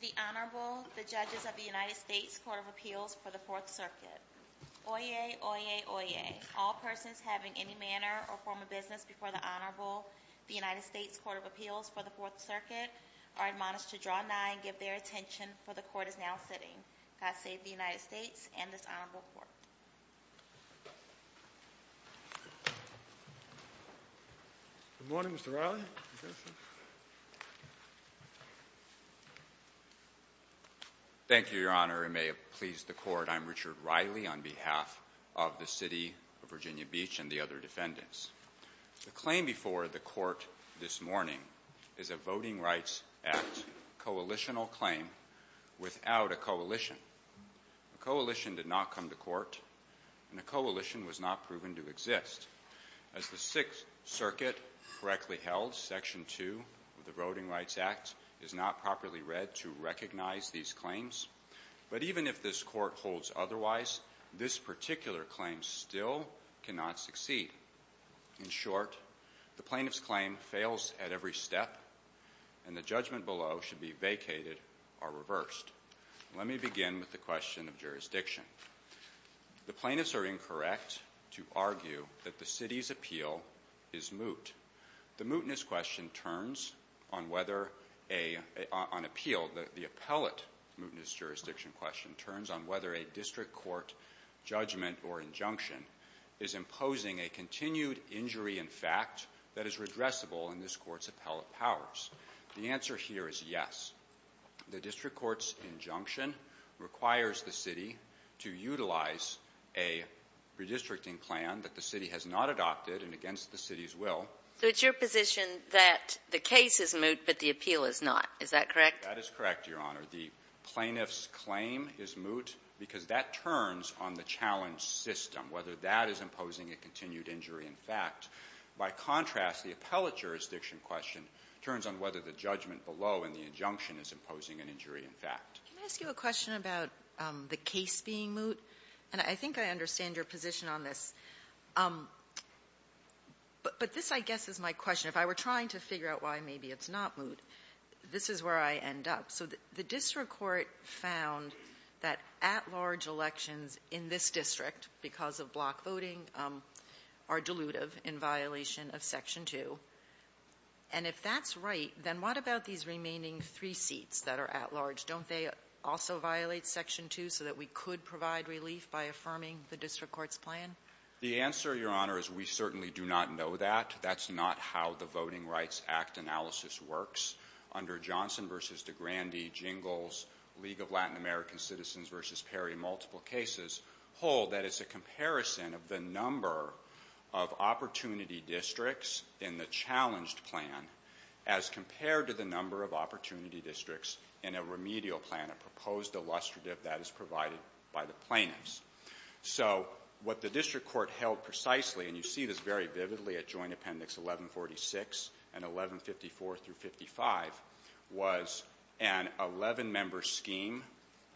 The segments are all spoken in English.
The Honorable, the judges of the United States Court of Appeals for the Fourth Circuit. Oyez, oyez, oyez. All persons having any manner or form of business before the Honorable, the United States Court of Appeals for the Fourth Circuit are admonished to draw nigh and give their attention for the court is now sitting. God save the United States and this honorable court. Good morning, Mr. Riley. Thank you, Your Honor. It may have pleased the court. I'm Richard Riley on behalf of the City of Virginia Beach and the other defendants. The claim before the court this morning is a voting rights act coalitional claim without a coalition. A coalition did not come to court and a coalition was not proven to exist. As the Sixth Circuit correctly held, Section 2 of the Voting Rights Act is not properly read to recognize these claims. But even if this court holds otherwise, this particular claim still cannot succeed. In short, the plaintiff's claim fails at every step and the judgment below should be vacated or reversed. Let me begin with the question of jurisdiction. The plaintiffs are incorrect to argue that the city's appeal is moot. The mootness question turns on whether a, on appeal, the appellate mootness jurisdiction question turns on whether a district court judgment or injunction is imposing a continued injury in fact that is appellate powers. The answer here is yes. The district court's injunction requires the city to utilize a redistricting plan that the city has not adopted and against the city's will. So it's your position that the case is moot but the appeal is not. Is that correct? That is correct, Your Honor. The plaintiff's claim is moot because that turns on the challenge system, whether that is imposing a continued injury in fact. By contrast, the appellate mootness jurisdiction question turns on whether the judgment below and the injunction is imposing an injury in fact. Can I ask you a question about the case being moot? And I think I understand your position on this. But this, I guess, is my question. If I were trying to figure out why maybe it's not moot, this is where I end up. So the district court found that at-large elections in this district, because of block And if that's right, then what about these remaining three seats that are at-large? Don't they also violate Section 2 so that we could provide relief by affirming the district court's plan? The answer, Your Honor, is we certainly do not know that. That's not how the Voting Rights Act analysis works. Under Johnson v. DeGrande, Jingles, League of Latin American Citizens v. Perry, multiple cases hold that it's a comparison of the number of opportunity districts in the challenged plan as compared to the number of opportunity districts in a remedial plan, a proposed illustrative that is provided by the plaintiffs. So what the district court held precisely, and you see this very vividly at Joint Appendix 1146 and 1154 through 55, was an 11-member scheme.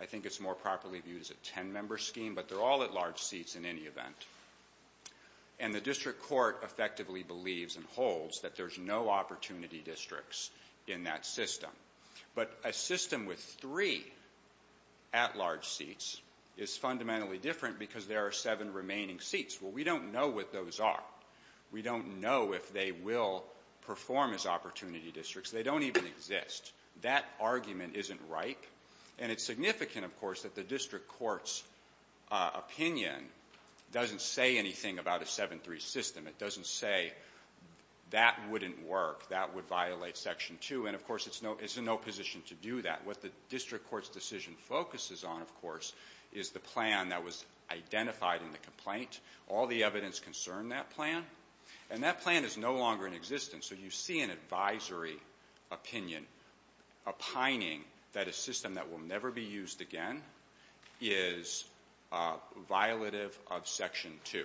I think it's more properly viewed as a 10-member scheme, but they're all at-large seats in any event. And the district court effectively believes and holds that there's no opportunity districts in that system. But a system with three at-large seats is fundamentally different because there are seven remaining seats. Well, we don't know what those are. We don't know if they will perform as opportunity districts. They don't even exist. That argument isn't right. And it's significant, of course, that the district court's opinion doesn't say anything about a 7-3 system. It doesn't say that wouldn't work, that would violate Section 2, and of course it's in no position to do that. What the district court's decision focuses on, of course, is the plan that was identified in the complaint, all the evidence concerned that plan, and that plan is no longer in existence. So you see an advisory opinion opining that a system that will never be used again is violative of Section 2.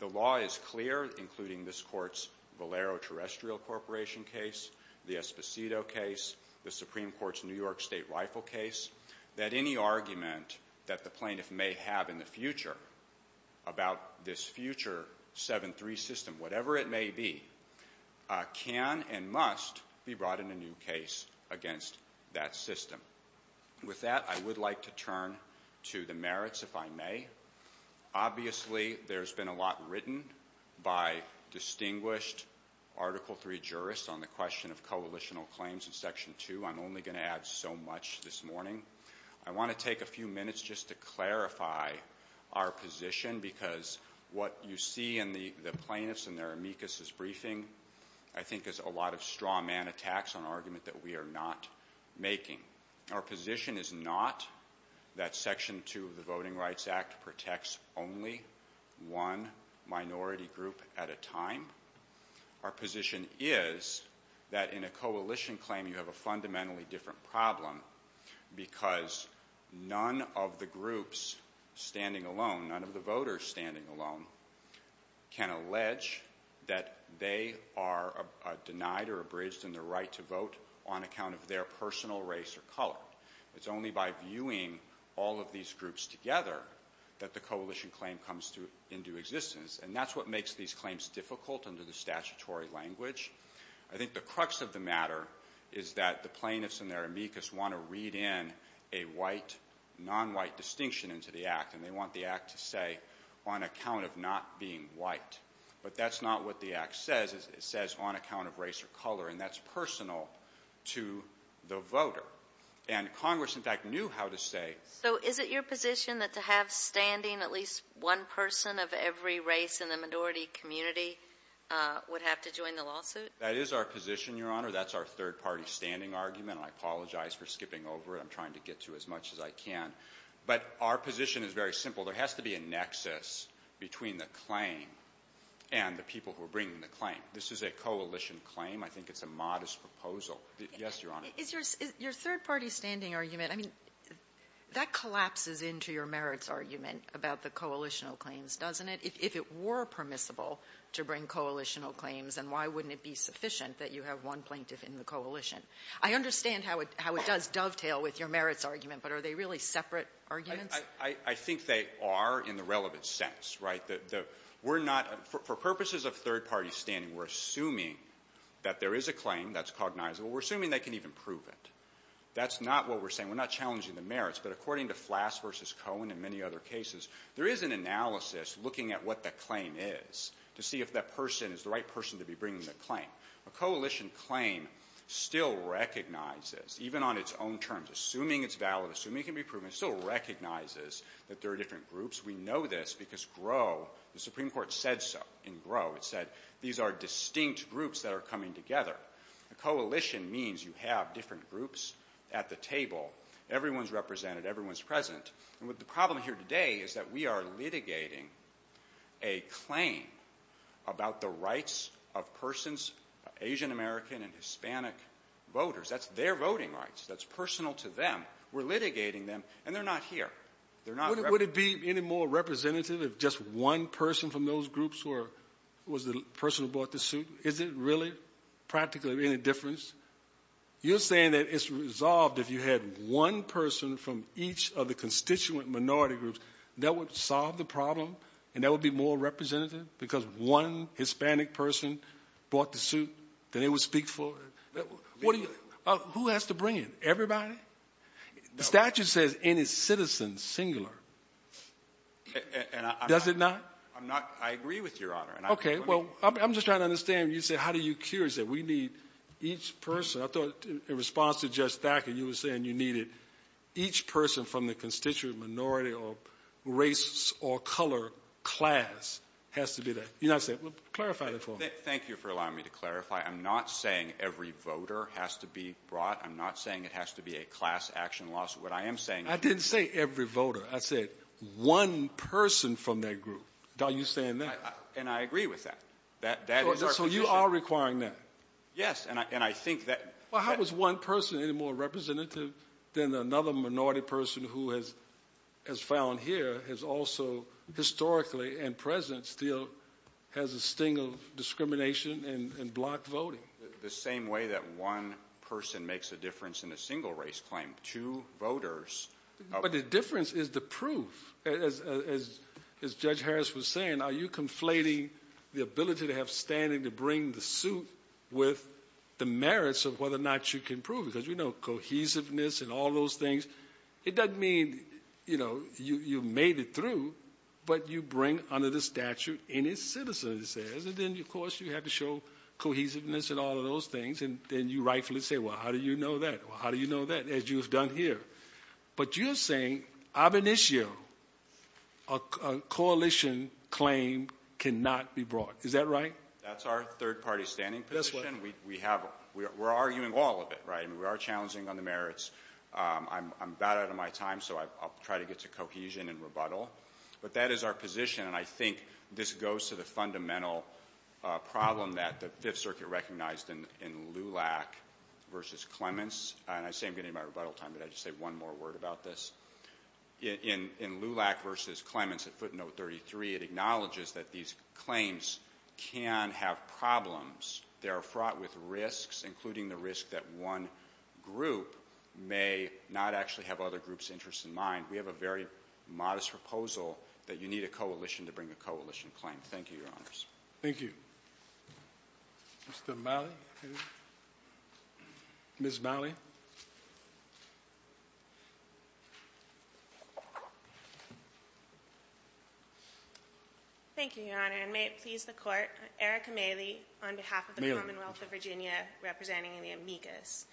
The law is clear, including this court's Valero Terrestrial Corporation case, the Esposito case, the Supreme Court's New York State Rifle case, that any argument that the plaintiff may have in the future about this future 7-3 system, whatever it may be, can and must be brought in a new case against that system. With that, I would like to turn to the merits, if I may. Obviously there's been a lot written by distinguished Article 3 jurists on the question of coalitional claims in Section 2. I'm only going to add so much this morning. I want to take a few minutes just to clarify our position, because what you see in the plaintiff's and their claim that we are not making. Our position is not that Section 2 of the Voting Rights Act protects only one minority group at a time. Our position is that in a coalition claim you have a fundamentally different problem, because none of the groups standing alone, none of the voters standing alone, can allege that they are denied or abridged in their right to vote on account of their personal race or color. It's only by viewing all of these groups together that the coalition claim comes into existence, and that's what makes these claims difficult under the statutory language. I think the crux of the matter is that the plaintiffs and their amicus want to read in a white, non-white distinction into the Act, and they want the Act to say, on account of not being white. But that's not what the Act says. It says, on account of race or color, and that's personal to the voter. And Congress, in fact, knew how to say... So is it your position that to have standing at least one person of every race in the minority community would have to join the lawsuit? That is our position, Your Honor. That's our third-party standing argument. I apologize for skipping over it. I'm trying to get to as much as I can. But our position is very between the claim and the people who are bringing the claim. This is a coalition claim. I think it's a modest proposal. Yes, Your Honor. Is your third-party standing argument, I mean, that collapses into your merits argument about the coalitional claims, doesn't it? If it were permissible to bring coalitional claims, then why wouldn't it be sufficient that you have one plaintiff in the coalition? I understand how it does dovetail with your merits argument, but are they really separate arguments? I think they are in the relevant sense, right? We're not... For purposes of third-party standing, we're assuming that there is a claim that's cognizable. We're assuming they can even prove it. That's not what we're saying. We're not challenging the merits, but according to Flass v. Cohen and many other cases, there is an analysis looking at what the claim is to see if that person is the right person to be bringing the claim. A coalition claim still recognizes, even on its own terms, assuming it's valid, assuming it can be proven, it's still recognizes that there are different groups. We know this because GROW, the Supreme Court said so in GROW, it said these are distinct groups that are coming together. A coalition means you have different groups at the table. Everyone's represented. Everyone's present. And the problem here today is that we are litigating a claim about the rights of persons of Asian-American and Hispanic voters. That's their voting rights. That's personal to them. But we're litigating them, and they're not here. They're not represented. Would it be any more representative if just one person from those groups was the person who bought the suit? Is it really practically any difference? You're saying that it's resolved if you had one person from each of the constituent minority groups, that would solve the problem and that would be more representative? Because one Hispanic person bought the suit, then it would speak for it. Who has to bring it? Everybody? The statute says any citizen singular. Does it not? I'm not — I agree with Your Honor. Okay. Well, I'm just trying to understand. You said how do you cure it? You said we need each person. I thought in response to Judge Thacker, you were saying you needed each person from the constituent minority or race or color class has to be there. You're not saying — clarify that for me. Thank you for allowing me to clarify. I'm not saying every voter has to be brought. I'm not saying it has to be a class action lawsuit. What I am saying — I didn't say every voter. I said one person from that group. Are you saying that? And I agree with that. That is our position. So you are requiring that? Yes. And I think that — Well, how is one person any more representative than another minority person who has found here has also historically and present still has a sting of discrimination and blocked voting? The same way that one person makes a difference in a single race claim. Two voters — But the difference is the proof. As Judge Harris was saying, are you conflating the ability to have standing to bring the suit with the merits of whether or not you can show cohesiveness and all those things? It doesn't mean, you know, you made it through, but you bring under the statute any citizen, it says. And then, of course, you have to show cohesiveness and all of those things. And then you rightfully say, well, how do you know that? Well, how do you know that? As you have done here. But you're saying ab initio, a coalition claim cannot be brought. Is that right? That's our third-party standing position. We have — we're arguing all of it, right? I mean, we are challenging on the merits. I'm about out of my time, so I'll try to get to cohesion and rebuttal. But that is our position, and I think this goes to the fundamental problem that the Fifth Circuit recognized in Lulac v. Clements. And I say I'm getting to my rebuttal time, but I'll just say one more word about this. In Lulac v. Clements at footnote 33, it acknowledges that these claims can have problems. They may not actually have other groups' interests in mind. We have a very modest proposal that you need a coalition to bring a coalition claim. Thank you, Your Honors. Thank you. Mr. Malley? Ms. Malley? Thank you, Your Honor. And may it please the Court, Eric Malley, on behalf of the Commonwealth of Virginia, representing the amicus.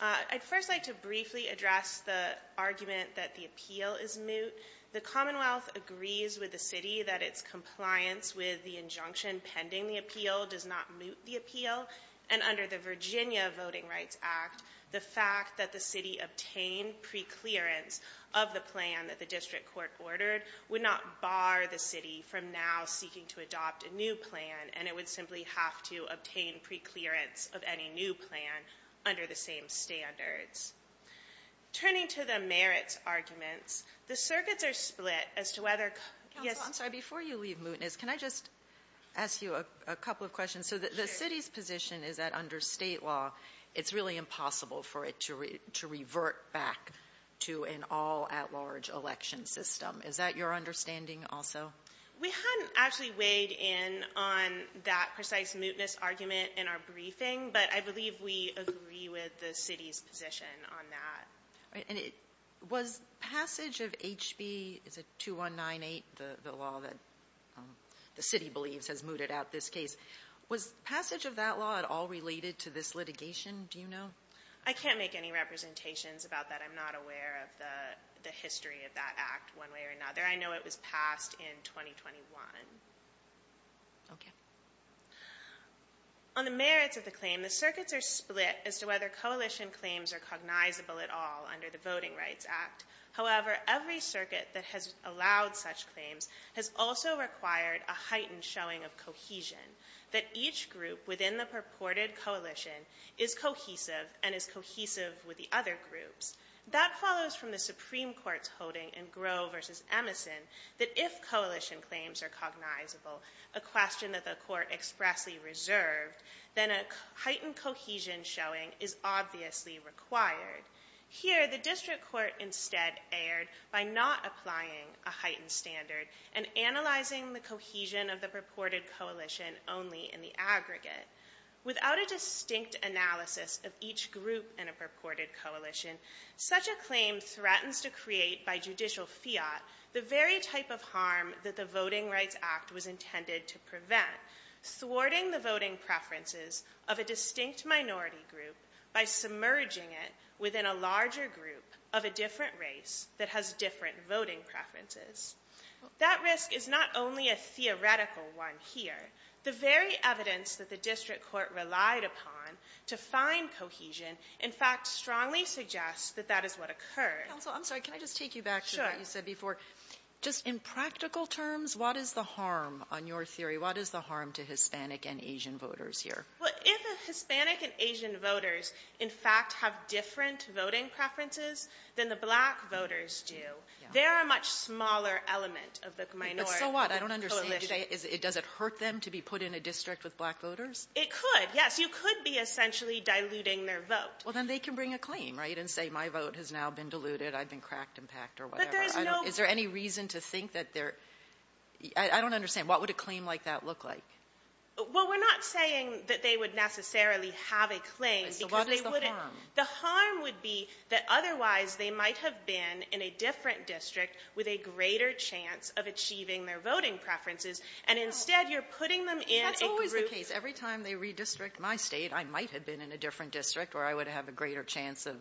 I'd first like to briefly address the argument that the appeal is moot. The Commonwealth agrees with the city that its compliance with the injunction pending the appeal does not moot the appeal. And under the Virginia Voting Rights Act, the fact that the city obtained preclearance of the plan that the district court ordered would not bar the city from now seeking to adopt a new plan, and it would simply have to obtain preclearance of any new plan under the same standards. Turning to the merits arguments, the circuits are split as to whether counsel— Counsel, I'm sorry. Before you leave mootness, can I just ask you a couple of questions? So the city's position is that under state law, it's really impossible for it to revert back to an all-at-large election system. Is that your understanding also? We hadn't actually weighed in on that precise mootness argument in our briefing, but I believe we agree with the city's position on that. Was passage of HB—is it 2198, the law that the city believes has mooted out this case—was passage of that law at all related to this litigation, do you know? I can't make any representations about that. I'm not aware of the history of that act one in 2021. On the merits of the claim, the circuits are split as to whether coalition claims are cognizable at all under the Voting Rights Act. However, every circuit that has allowed such claims has also required a heightened showing of cohesion, that each group within the purported coalition is cohesive and is cohesive with the other groups. That follows from the Supreme Court's holding in Groh v. Emison that if coalition claims are cognizable, a question that the court expressly reserved, then a heightened cohesion showing is obviously required. Here, the district court instead erred by not applying a heightened standard and analyzing the cohesion of the purported coalition only in the aggregate. Without a distinct analysis of each group in a purported coalition, such a claim threatens to create by judicial fiat the very type of harm that the Voting Rights Act was intended to prevent, thwarting the voting preferences of a distinct minority group by submerging it within a larger group of a different race that has different voting preferences. That risk is not only a theoretical one here. The very evidence that the district court relied upon to find cohesion in fact strongly suggests that that is what occurred. Counsel, I'm sorry, can I just take you back to what you said before? Just in practical terms, what is the harm on your theory? What is the harm to Hispanic and Asian voters here? Well, if Hispanic and Asian voters in fact have different voting preferences than the black voters do, they're a much smaller element of the minority coalition. But so what? I don't understand. Does it hurt them to be put in a district with black voters? It could, yes. You could be essentially diluting their vote. Well then they can bring a claim, right, and say my vote has now been diluted, I've been cracked and packed or whatever. Is there any reason to think that they're... I don't understand. What would a claim like that look like? Well, we're not saying that they would necessarily have a claim because they wouldn't... So what is the harm? The harm would be that otherwise they might have been in a different district with a greater chance of achieving their voting preferences, and instead you're putting them in a group... That's always the case. Every time they redistrict my state, I might have been in a different district where I would have a greater chance of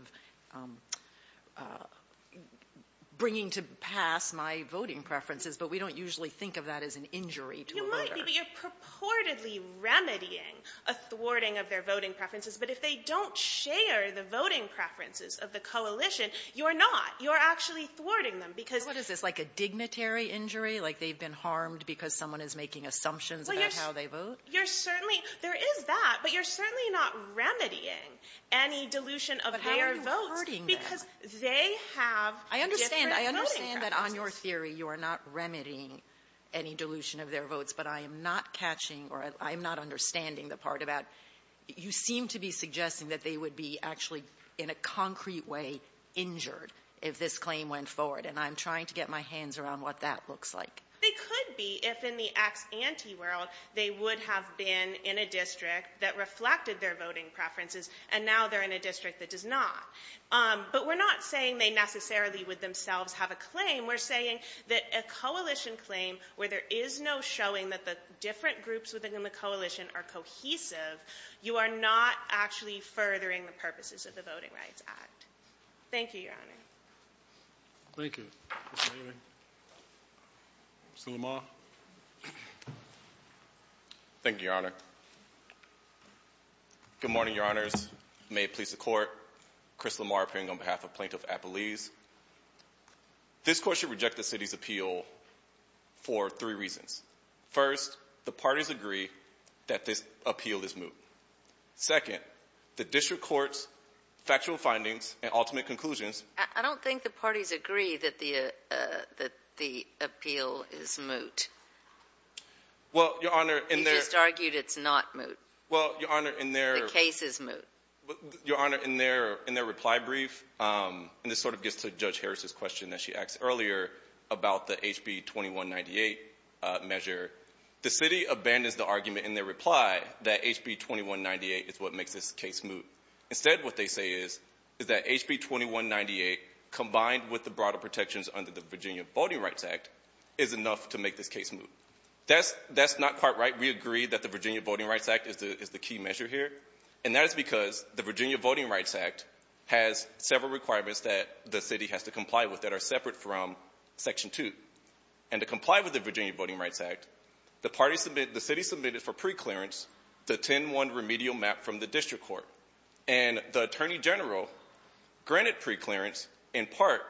bringing to pass my voting preferences, but we don't usually think of that as an injury to a voter. You might be, but you're purportedly remedying a thwarting of their voting preferences. But if they don't share the voting preferences of the coalition, you're not. You're actually thwarting them because... What is this, like a dignitary injury, like they've been harmed because someone is making assumptions about how they vote? You're certainly — there is that, but you're certainly not remedying any dilution of their votes... But how are you thwarting that? ...because they have different voting preferences. I understand. I understand that on your theory you are not remedying any dilution of their votes, but I am not catching or I'm not understanding the part about you seem to be suggesting that they would be actually in a concrete way injured if this were the case. I'm trying to get my hands around what that looks like. They could be if in the ex-anti world they would have been in a district that reflected their voting preferences, and now they're in a district that does not. But we're not saying they necessarily would themselves have a claim. We're saying that a coalition claim where there is no showing that the different groups within the coalition are cohesive, you are not actually furthering the purposes of the Voting Rights Act. Thank you, Your Honor. Thank you, Mr. Maynard. Mr. Lamar? Thank you, Your Honor. Good morning, Your Honors. May it please the Court. Chris Lamar appearing on behalf of Plaintiff Appellees. This Court should reject the City's appeal for three reasons. First, the parties agree that this appeal is moot. Second, the district courts, factual findings, and ultimate conclusions— I don't think the parties agree that the appeal is moot. Well, Your Honor— You just argued it's not moot. Well, Your Honor, in their— The case is moot. Your Honor, in their reply brief, and this sort of gets to Judge Harris's question that she asked earlier about the HB 2198 measure, the City abandons the argument in their reply that HB 2198 is what makes this case moot. Instead, what they say is that HB 2198, combined with the broader protections under the Virginia Voting Rights Act, is enough to make this case moot. That's not quite right. We agree that the Virginia Voting Rights Act is the key measure here, and that is because the Virginia Voting Rights Act has several requirements that the City has to comply with that are separate from Section 2. And to comply with the Virginia Voting Rights Act, the City submitted for preclearance the 10-1 remedial map from the district court. And the Attorney General granted preclearance in part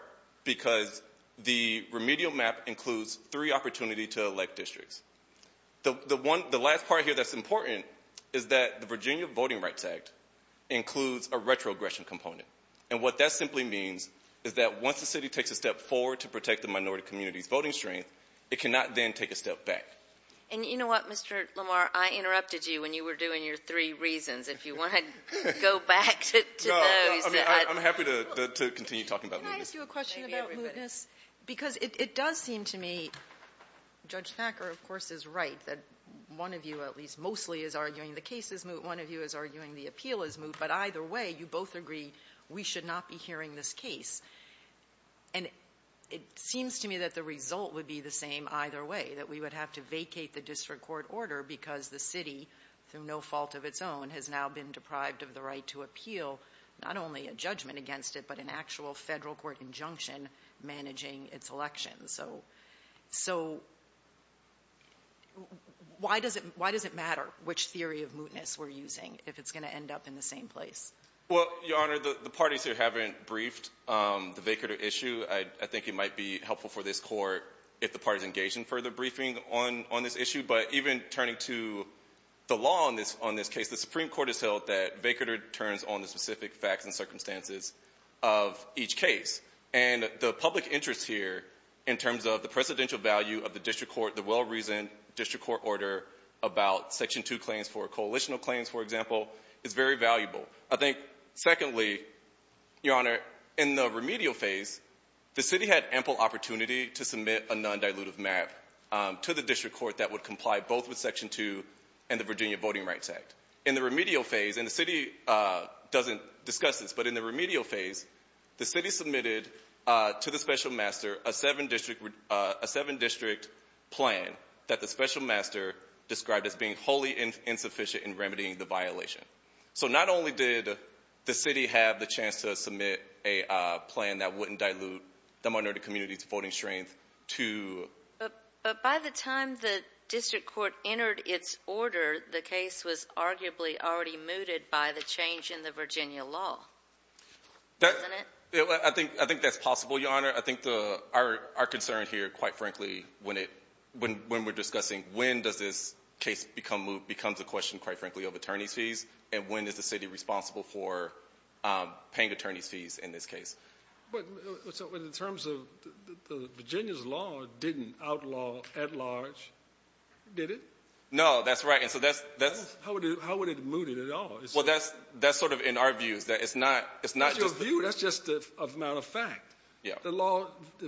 because the remedial map includes three opportunities to elect districts. The last part here that's important is that the Virginia Voting Rights Act includes a retrogression component. And what that simply means is that once the City takes a step forward to protect the minority community's voting strength, it cannot then take a step back. And you know what, Mr. Lamar? I interrupted you when you were doing your three reasons. If you want to go back to those. I'm happy to continue talking about mootness. Can I ask you a question about mootness? Because it does seem to me, Judge Thacker, of course, is right, that one of you at least mostly is arguing the case is moot, one of you is arguing the appeal is moot. But either way, you both agree we should not be hearing this case. And it seems to me that the result would be the same either way, that we would have to vacate the district court order because the City, through no fault of its own, has now been deprived of the right to appeal not only a judgment against it, but an actual federal court injunction managing its elections. So why does it matter which theory of mootness we're using if it's going to end up in the same place? Well, Your Honor, the parties here haven't briefed the vacator issue. I think it might be helpful for this Court if the parties engage in further briefing on this issue. But even turning to the law on this case, the Supreme Court has held that vacator turns on the specific facts and circumstances of each case. And the public interest here in terms of the presidential value of the district court, the well-reasoned district court order about Section 2 claims for coalitional claims, for example, is very valuable. I think, secondly, Your Honor, in the remedial phase, the City had ample opportunity to submit a non-dilutive map to the district court that would comply both with Section 2 and the Virginia Voting Rights Act. In the remedial phase, and the City doesn't discuss this, but in the remedial phase, the City submitted to the Special Master a seven-district plan that the Special Master described as being wholly insufficient in remedying the violation. So not only did the City have the chance to submit a plan that wouldn't dilute the minority community's voting strength to... But by the time the district court entered its order, the case was arguably already mooted by the change in the Virginia law, wasn't it? I think that's possible, Your Honor. I think our concern here, quite frankly, when we're discussing when does this case become the question, quite frankly, of attorney's fees and when is the City responsible for paying attorney's fees in this case. But in terms of Virginia's law didn't outlaw at large, did it? No, that's right. How would it have mooted it at all? Well, that's sort of in our views. In your view? That's just the amount of fact. Yeah. The law, the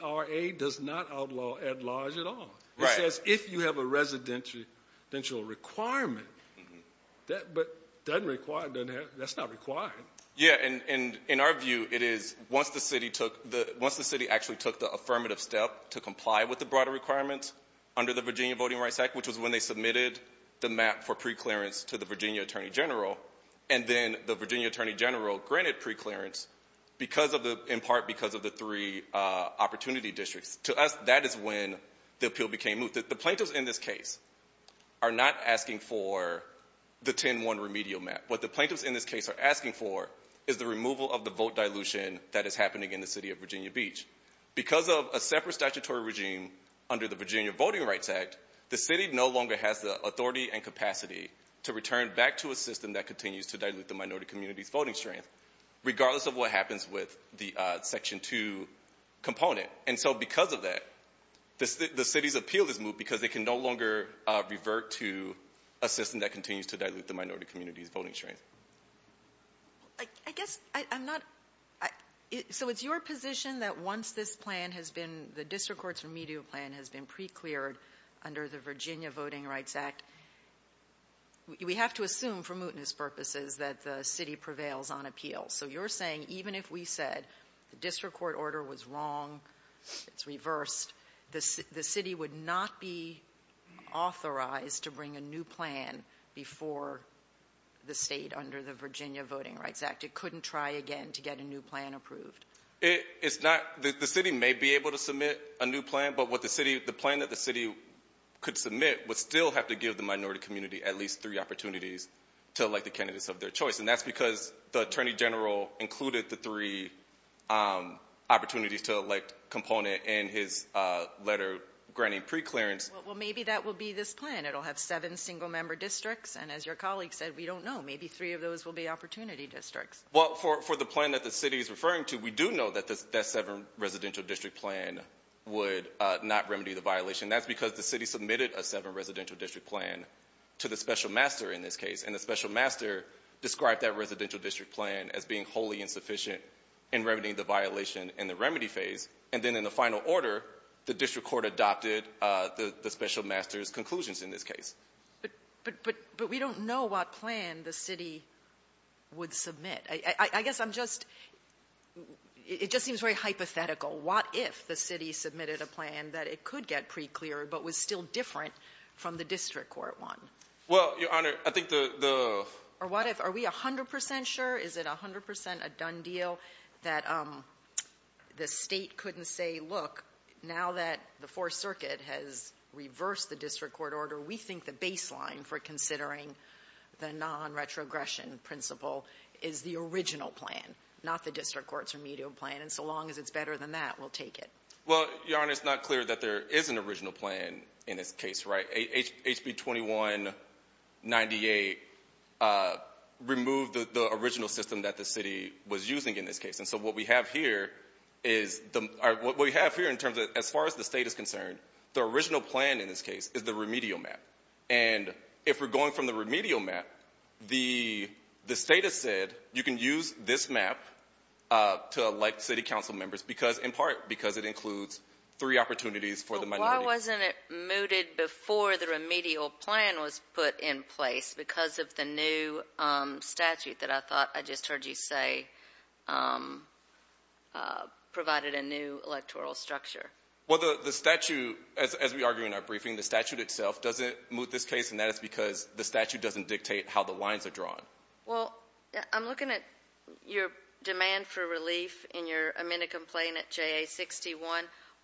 VVRA does not outlaw at large at all. Right. It says if you have a residential requirement, but that's not required. Yeah, and in our view, it is once the City actually took the affirmative step to comply with the broader requirements under the Virginia Voting Rights Act, which was when they submitted the map for preclearance to the Virginia Attorney General, and then the Virginia Attorney General granted preclearance, in part because of the three opportunity districts. To us, that is when the appeal became moot. The plaintiffs in this case are not asking for the 10-1 remedial map. What the plaintiffs in this case are asking for is the removal of the vote dilution that is happening in the City of Virginia Beach. Because of a separate statutory regime under the Virginia Voting Rights Act, that continues to dilute the minority community's voting strength, regardless of what happens with the Section 2 component. And so because of that, the City's appeal is moot because it can no longer revert to a system that continues to dilute the minority community's voting strength. I guess I'm not—so it's your position that once this plan has been— the District Courts Remedial Plan has been precleared under the Virginia Voting Rights Act, we have to assume for mootness purposes that the City prevails on appeals. So you're saying even if we said the District Court order was wrong, it's reversed, the City would not be authorized to bring a new plan before the State under the Virginia Voting Rights Act. It couldn't try again to get a new plan approved. It's not—the City may be able to submit a new plan, but the plan that the City could submit would still have to give the minority community at least three opportunities to elect the candidates of their choice. And that's because the Attorney General included the three opportunities to elect component in his letter granting preclearance. Well, maybe that will be this plan. It'll have seven single-member districts. And as your colleague said, we don't know. Maybe three of those will be opportunity districts. Well, for the plan that the City is referring to, we do know that that seven-residential district plan would not remedy the violation. That's because the City submitted a seven-residential district plan to the special master in this case, and the special master described that residential district plan as being wholly insufficient in remedying the violation in the remedy phase. And then in the final order, the District Court adopted the special master's conclusions in this case. But we don't know what plan the City would submit. I guess I'm just—it just seems very hypothetical. What if the City submitted a plan that it could get precleared but was still different from the District Court one? Well, Your Honor, I think the— Or what if—are we 100% sure? Is it 100% a done deal that the State couldn't say, look, now that the Fourth Circuit has reversed the District Court order, we think the baseline for considering the non-retrogression principle is the original plan, not the District Court's remedial plan. And so long as it's better than that, we'll take it. Well, Your Honor, it's not clear that there is an original plan in this case, right? HB 2198 removed the original system that the City was using in this case. And so what we have here is—what we have here in terms of, as far as the State is concerned, the original plan in this case is the remedial map. And if we're going from the remedial map, the State has said you can use this map to elect City Council members in part because it includes three opportunities for the minority. But why wasn't it mooted before the remedial plan was put in place because of the new statute that I thought I just heard you say provided a new electoral structure? Well, the statute, as we argue in our briefing, the statute itself doesn't moot this case, and that is because the statute doesn't dictate how the lines are drawn. Well, I'm looking at your demand for relief in your amended complaint at JA-61.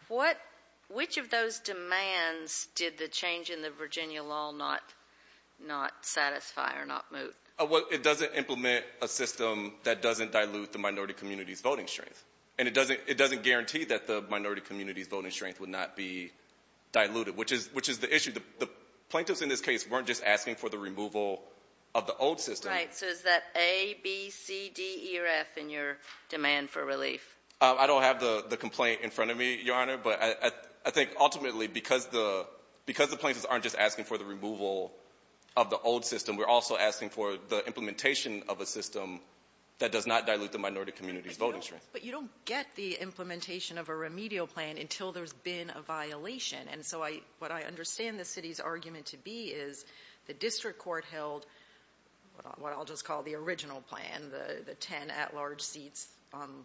What—which of those demands did the change in the Virginia law not satisfy or not moot? Well, it doesn't implement a system that doesn't dilute the minority community's voting strength. And it doesn't guarantee that the minority community's voting strength would not be diluted, which is the issue. The plaintiffs in this case weren't just asking for the removal of the old system. Right. So is that A, B, C, D, E, or F in your demand for relief? I don't have the complaint in front of me, Your Honor, but I think ultimately because the plaintiffs aren't just asking for the removal of the old system, we're also asking for the implementation of a system that does not dilute the minority community's voting strength. But you don't get the implementation of a remedial plan until there's been a violation. And so what I understand the city's argument to be is the district court held what I'll just call the original plan, the ten at-large seats,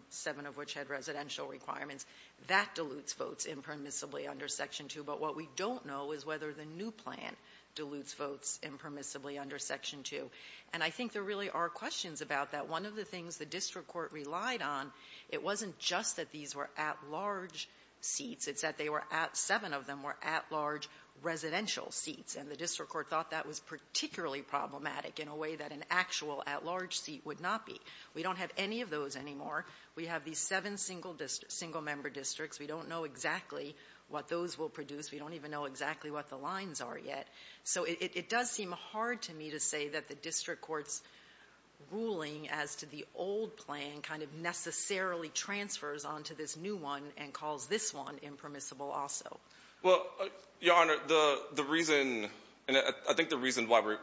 seven of which had residential requirements. That dilutes votes impermissibly under Section 2. But what we don't know is whether the new plan dilutes votes impermissibly under Section 2. And I think there really are questions about that. One of the things the district court relied on, it wasn't just that these were at-large seats. It's that they were at — seven of them were at-large residential seats. And the district court thought that was particularly problematic in a way that an actual at-large seat would not be. We don't have any of those anymore. We have these seven single-member districts. We don't know exactly what those will produce. We don't even know exactly what the lines are yet. So it does seem hard to me to say that the district court's ruling as to the old plan kind of necessarily transfers onto this new one and calls this one impermissible also. Well, Your Honor, the reason — and I think the reason why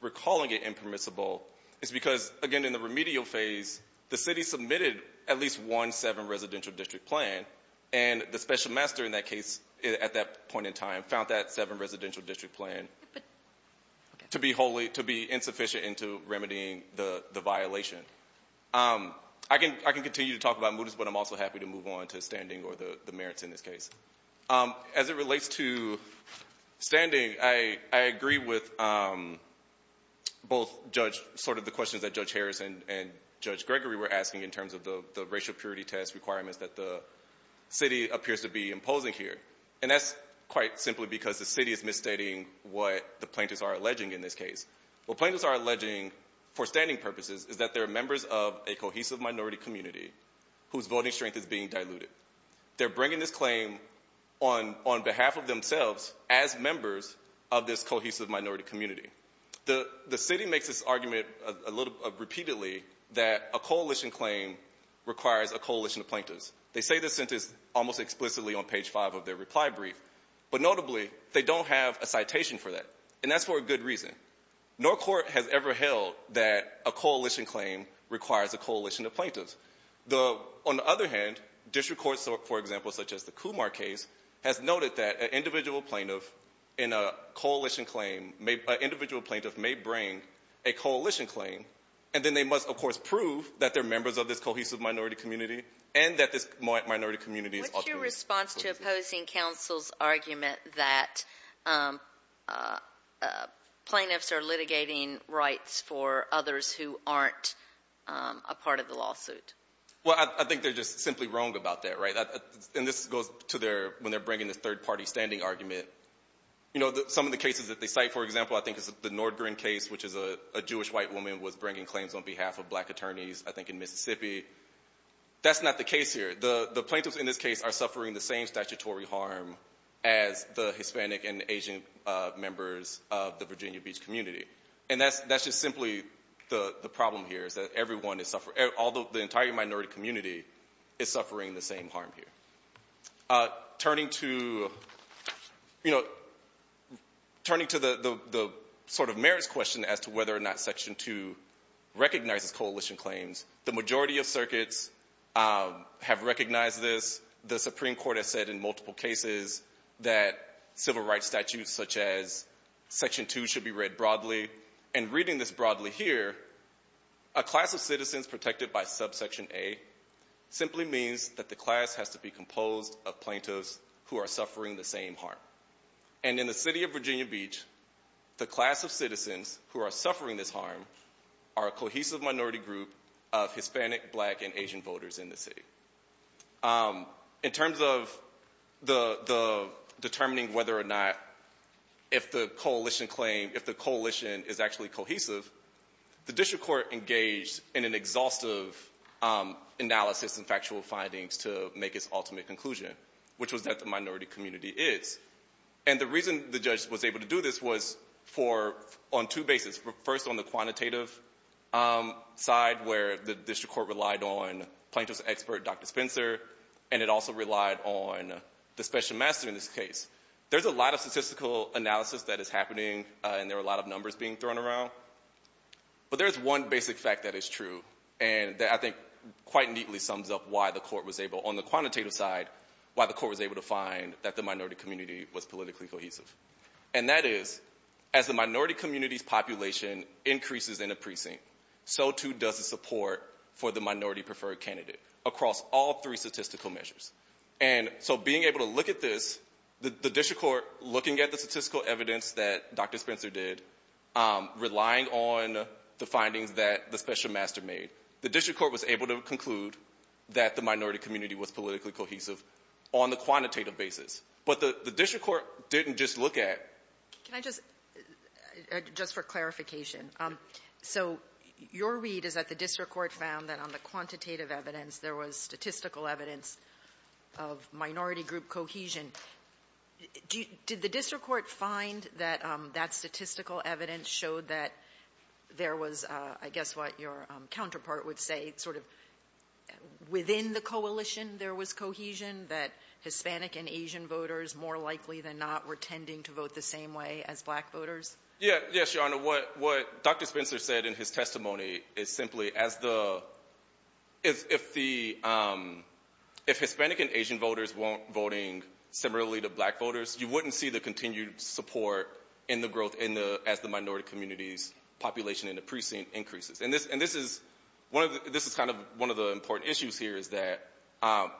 we're calling it impermissible is because, again, in the remedial phase, the city submitted at least one seven-residential district plan. And the special master in that case at that point in time found that seven-residential district plan to be wholly — to be insufficient into remedying the violation. I can continue to talk about mootus, but I'm also happy to move on to standing or the merits in this case. As it relates to standing, I agree with both Judge — sort of the questions that Judge Harris and Judge Gregory were asking in terms of the racial purity test requirements that the city appears to be imposing here. And that's quite simply because the city is misstating what the plaintiffs are alleging in this case. What plaintiffs are alleging for standing purposes is that they're members of a cohesive minority community whose voting strength is being diluted. They're bringing this claim on behalf of themselves as members of this cohesive minority community. The city makes this argument a little — repeatedly that a coalition claim requires a coalition of plaintiffs. They say this sentence almost explicitly on page 5 of their reply brief. But notably, they don't have a citation for that. And that's for a good reason. No court has ever held that a coalition claim requires a coalition of plaintiffs. The — on the other hand, district courts, for example, such as the Kumar case, has noted that an individual plaintiff in a coalition claim — an individual plaintiff may bring a coalition claim, and then they must, of course, prove that they're members of this cohesive minority community and that this minority community is authoritative. What's your response to opposing counsel's argument that plaintiffs are litigating rights for others who aren't a part of the lawsuit? Well, I think they're just simply wrong about that, right? And this goes to their — when they're bringing this third-party standing argument. You know, some of the cases that they cite, for example, I think it's the Nordgren case, which is a Jewish white woman was bringing claims on behalf of black attorneys, I think, in Mississippi. That's not the case here. The plaintiffs in this case are suffering the same statutory harm as the Hispanic and Asian members of the Virginia Beach community. And that's just simply the problem here, is that everyone is — although the entire minority community is suffering the same harm here. Turning to — you know, turning to the sort of merits question as to whether or not Section 2 recognizes coalition claims, the majority of circuits have recognized this. The Supreme Court has said in multiple cases that civil rights statutes such as Section 2 should be read broadly. And reading this broadly here, a class of citizens protected by subsection A simply means that the class has to be composed of plaintiffs who are suffering the same harm. And in the city of Virginia Beach, the class of citizens who are suffering this harm are a cohesive minority group of Hispanic, black, and Asian voters in the city. In terms of the determining whether or not if the coalition claim — if the coalition is actually cohesive, the district court engaged in an exhaustive analysis and factual findings to make its ultimate conclusion, which was that the minority community is. And the reason the judge was able to do this was for — on two bases. First, on the quantitative side, where the district court relied on plaintiff's expert, Dr. Spencer, and it also relied on the special master in this case. There's a lot of statistical analysis that is happening, and there are a lot of numbers being thrown around. But there is one basic fact that is true, and that I think quite neatly sums up why the court was able — on the quantitative side, why the court was able to find that the minority community was politically cohesive. And that is, as the minority community's population increases in a precinct, so too does the support for the minority-preferred candidate across all three statistical measures. And so being able to look at this, the district court looking at the statistical evidence that Dr. Spencer did, relying on the findings that the special master made, the district court was able to conclude that the minority community was politically cohesive on the quantitative basis. But the district court didn't just look at — Can I just — just for clarification. So your read is that the district court found that on the quantitative evidence, there was statistical evidence of minority group cohesion. Did the district court find that that statistical evidence showed that there was, I guess what your counterpart would say, sort of within the coalition there was cohesion, that Hispanic and Asian voters more likely than not were tending to vote the same way as black voters? Yeah. Yes, Your Honor. What Dr. Spencer said in his testimony is simply, as the — if the — if Hispanic and Asian voters weren't voting similarly to black voters, you wouldn't see the continued support in the growth as the minority community's population in the precinct increases. And this is one of the — this is kind of one of the important issues here is that,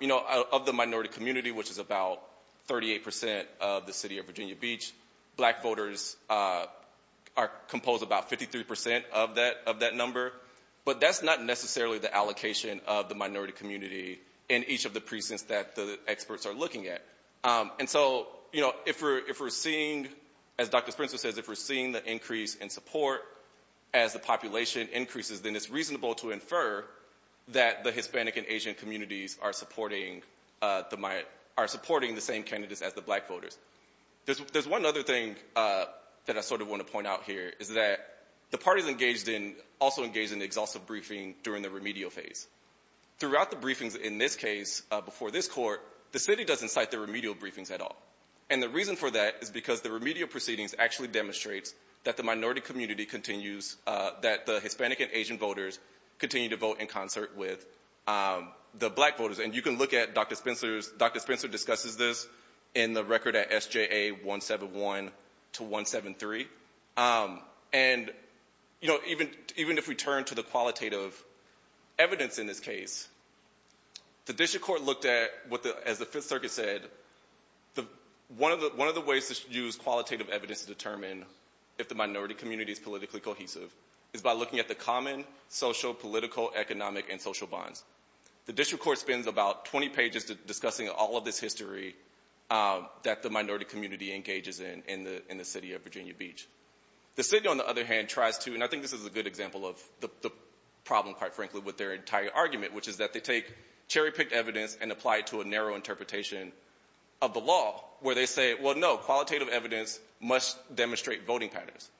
you know, of the minority community, which is about 38 percent of the city of Virginia Beach, black voters compose about 53 percent of that number. But that's not necessarily the allocation of the minority community in each of the precincts that the experts are looking at. And so, you know, if we're seeing, as Dr. Spencer says, if we're seeing the increase in support as the population increases, then it's reasonable to infer that the Hispanic and Asian communities are supporting the — are supporting the same candidates as the black voters. There's one other thing that I sort of want to point out here is that the parties engaged in — also engaged in the exhaustive briefing during the remedial phase. Throughout the briefings in this case, before this court, the city doesn't cite the remedial briefings at all. And the reason for that is because the remedial proceedings actually demonstrates that the minority community continues — that the Hispanic and Asian voters continue to vote in concert with the black voters. And you can look at Dr. Spencer's — Dr. Spencer discusses this in the record at SJA 171 to 173. And, you know, even if we turn to the qualitative evidence in this case, the district court looked at what the — as the Fifth Circuit said, one of the ways to use qualitative evidence to determine if the minority community is politically cohesive is by looking at the common social, political, economic, and social bonds. The district court spends about 20 pages discussing all of this history that the minority community engages in in the city of Virginia Beach. The city, on the other hand, tries to — and I think this is a good example of the problem, quite frankly, with their entire argument, which is that they take cherry-picked evidence and apply it to a narrow interpretation of the law, where they say, well, no, qualitative evidence must demonstrate voting patterns.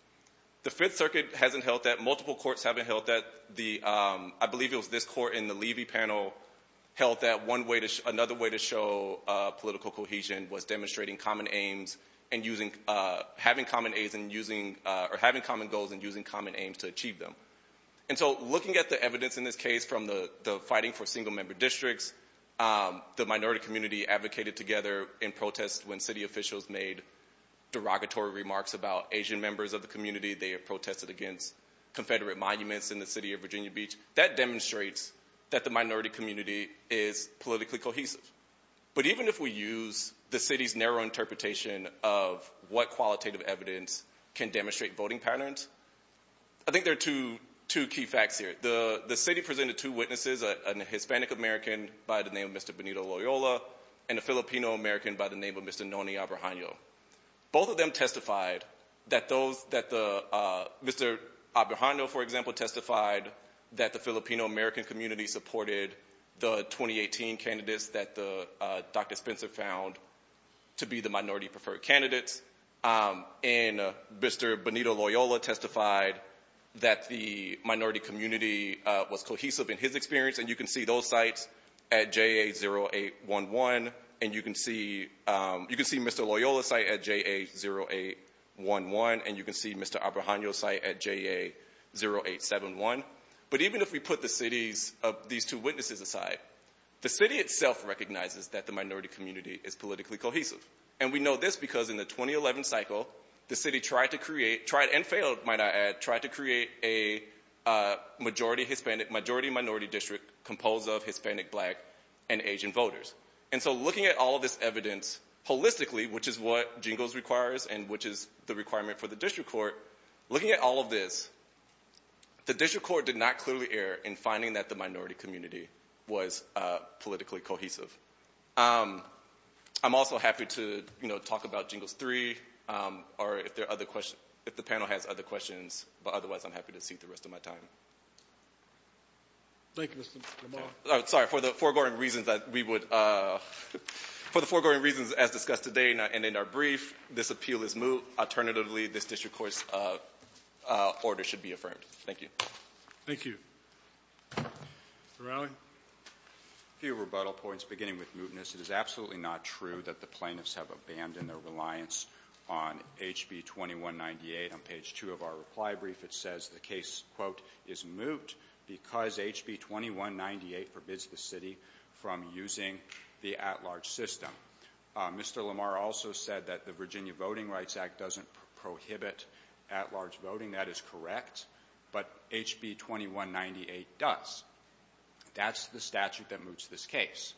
The Fifth Circuit hasn't held that. Multiple courts haven't held that. The — I believe it was this court in the Levy panel held that one way to — another way to show political cohesion was demonstrating common aims and using — having common aims and using — or having common goals and using common aims to achieve them. And so looking at the evidence in this case from the fighting for single-member districts, the minority community advocated together in protest when city officials made derogatory remarks about Asian members of the community. They protested against Confederate monuments in the city of Virginia Beach. That demonstrates that the minority community is politically cohesive. But even if we use the city's narrow interpretation of what qualitative evidence can demonstrate voting patterns, I think there are two key facts here. The city presented two witnesses, a Hispanic American by the name of Mr. Benito Loyola and a Filipino American by the name of Mr. Noni Abrahano. Both of them testified that those — that the — Mr. Abrahano, for example, testified that the Filipino American community supported the 2018 candidates that Dr. Spencer found to be the minority-preferred candidates. And Mr. Benito Loyola testified that the minority community was cohesive in his experience. And you can see those sites at JA0811. And you can see — you can see Mr. Loyola's site at JA0811. And you can see Mr. Abrahano's site at JA0871. But even if we put the city's — these two witnesses aside, the city itself recognizes that the minority community is politically cohesive. And we know this because in the 2011 cycle, the city tried to create — tried and failed, might I add — tried to create a majority Hispanic — majority minority district composed of Hispanic, Black, and Asian voters. And so looking at all of this evidence holistically, which is what JINGOS requires and which is the requirement for the district court, looking at all of this, the district court did not clearly err in finding that the minority community was politically cohesive. I'm also happy to, you know, talk about JINGOS 3 or if there are other questions — if the panel has other questions, but otherwise I'm happy to seek the rest of my time. Thank you, Mr. Lamar. Sorry, for the foregoing reasons that we would — for the foregoing reasons as discussed today and in our brief, this appeal is moved. Alternatively, this district court's order should be affirmed. Thank you. Thank you. Mr. Rowley. A few rebuttal points beginning with mootness. It is absolutely not true that the plaintiffs have abandoned their reliance on HB 2198. On page 2 of our reply brief, it says the case, quote, is moot because HB 2198 forbids the city from using the at-large system. Mr. Lamar also said that the Virginia Voting Rights Act doesn't prohibit at-large voting. That is correct, but HB 2198 does. That's the statute that moots this case.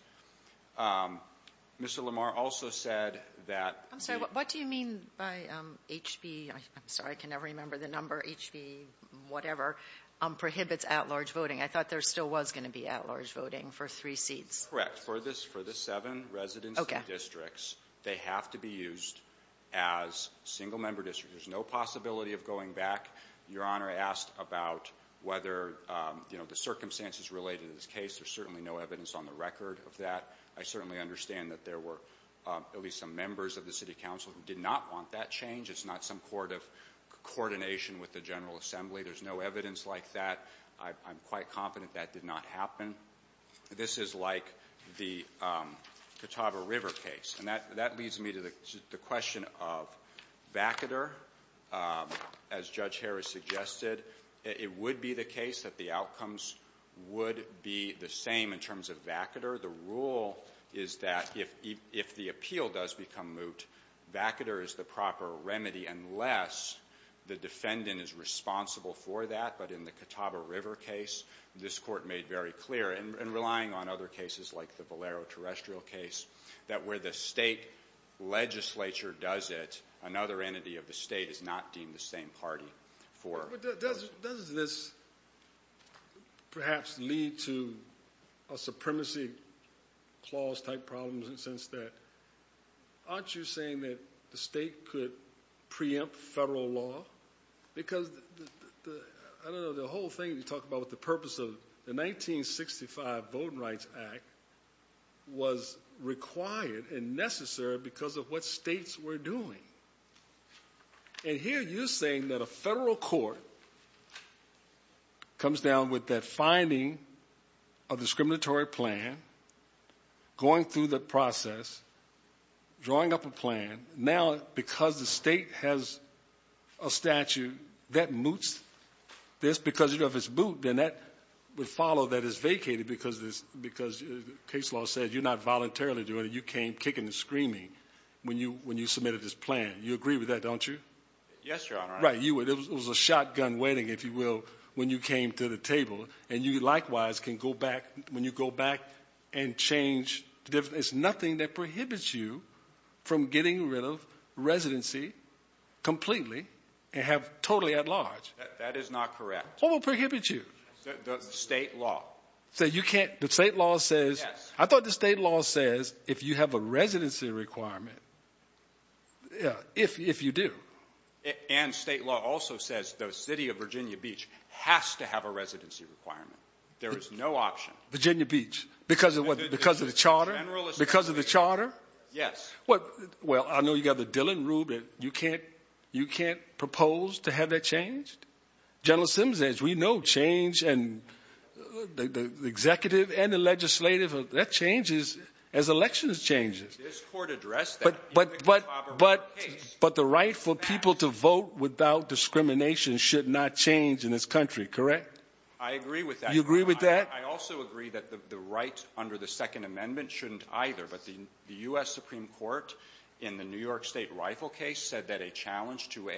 Mr. Lamar also said that — I'm sorry. What do you mean by HB — I'm sorry. I can never remember the number. HB whatever prohibits at-large voting. I thought there still was going to be at-large voting for three seats. Correct. For this — for the seven residency districts, they have to be used as single-member districts. There's no possibility of going back. Your Honor, I asked about whether, you know, the circumstances related to this case. There's certainly no evidence on the record of that. I certainly understand that there were at least some members of the city council who did not want that change. It's not some sort of coordination with the General Assembly. There's no evidence like that. I'm quite confident that did not happen. This is like the Catawba River case. And that leads me to the question of vacater. As Judge Harris suggested, it would be the case that the outcomes would be the same in terms of vacater. The rule is that if the appeal does become moot, vacater is the proper remedy unless the defendant is responsible for that. But in the Catawba River case, this Court made very clear, and relying on other cases like the Valero terrestrial case, that where the state legislature does it, another entity of the state is not deemed the same party. Does this perhaps lead to a supremacy clause-type problem in the sense that aren't you saying that the state could preempt federal law? Because, I don't know, the whole thing you talk about with the purpose of the 1965 Voting Rights Act was required and necessary because of what states were doing. And here you're saying that a federal court comes down with that finding of discriminatory plan, going through the process, drawing up a plan. And now, because the state has a statute that moots this, because if it's moot, then that would follow that it's vacated because the case law says you're not voluntarily doing it. You came kicking and screaming when you submitted this plan. You agree with that, don't you? Yes, Your Honor. Right. It was a shotgun wedding, if you will, when you came to the table. And you likewise can go back, when you go back and change, there's nothing that prohibits you from getting rid of residency completely and have totally at large. That is not correct. What would prohibit you? The state law. So you can't, the state law says. Yes. I thought the state law says if you have a residency requirement, if you do. And state law also says the city of Virginia Beach has to have a residency requirement. There is no option. Virginia Beach. Because of what? Because of the charter? Because of the charter? Yes. Well, I know you've got the Dillon rule, but you can't propose to have that changed? General Sims, as we know, change and the executive and the legislative, that changes as elections change. This court addressed that. But the right for people to vote without discrimination should not change in this country, correct? I agree with that. You agree with that? I also agree that the right under the Second Amendment shouldn't either. But the U.S. Supreme Court in the New York state rifle case said that a challenge to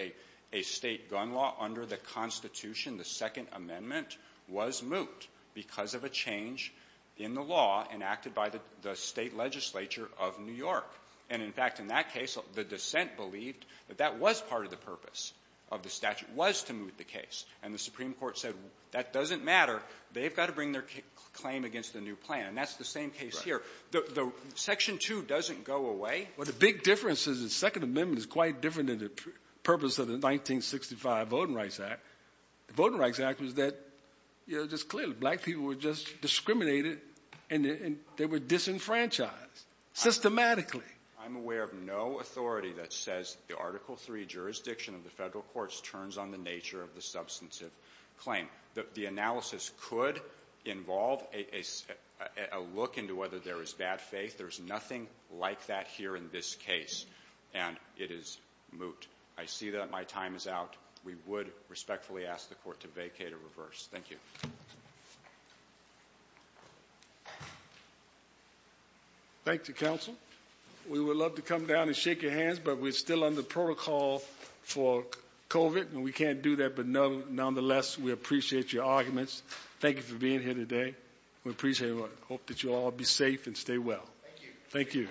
a state gun law under the Constitution, the Second Amendment, was moot because of a change in the law enacted by the state legislature of New York. And, in fact, in that case, the dissent believed that that was part of the purpose of the statute, was to moot the case. And the Supreme Court said that doesn't matter. They've got to bring their claim against the new plan. And that's the same case here. Section 2 doesn't go away. Well, the big difference is the Second Amendment is quite different than the purpose of the 1965 Voting Rights Act. The Voting Rights Act was that just clearly black people were just discriminated and they were disenfranchised systematically. I'm aware of no authority that says the Article III jurisdiction of the federal courts turns on the nature of the substantive claim. The analysis could involve a look into whether there is bad faith. There's nothing like that here in this case. And it is moot. I see that my time is out. We would respectfully ask the court to vacate or reverse. Thank you. Thank you, counsel. We would love to come down and shake your hands, but we're still under protocol for COVID, and we can't do that. But, nonetheless, we appreciate your arguments. Thank you for being here today. We appreciate it. Hope that you all be safe and stay well. Thank you.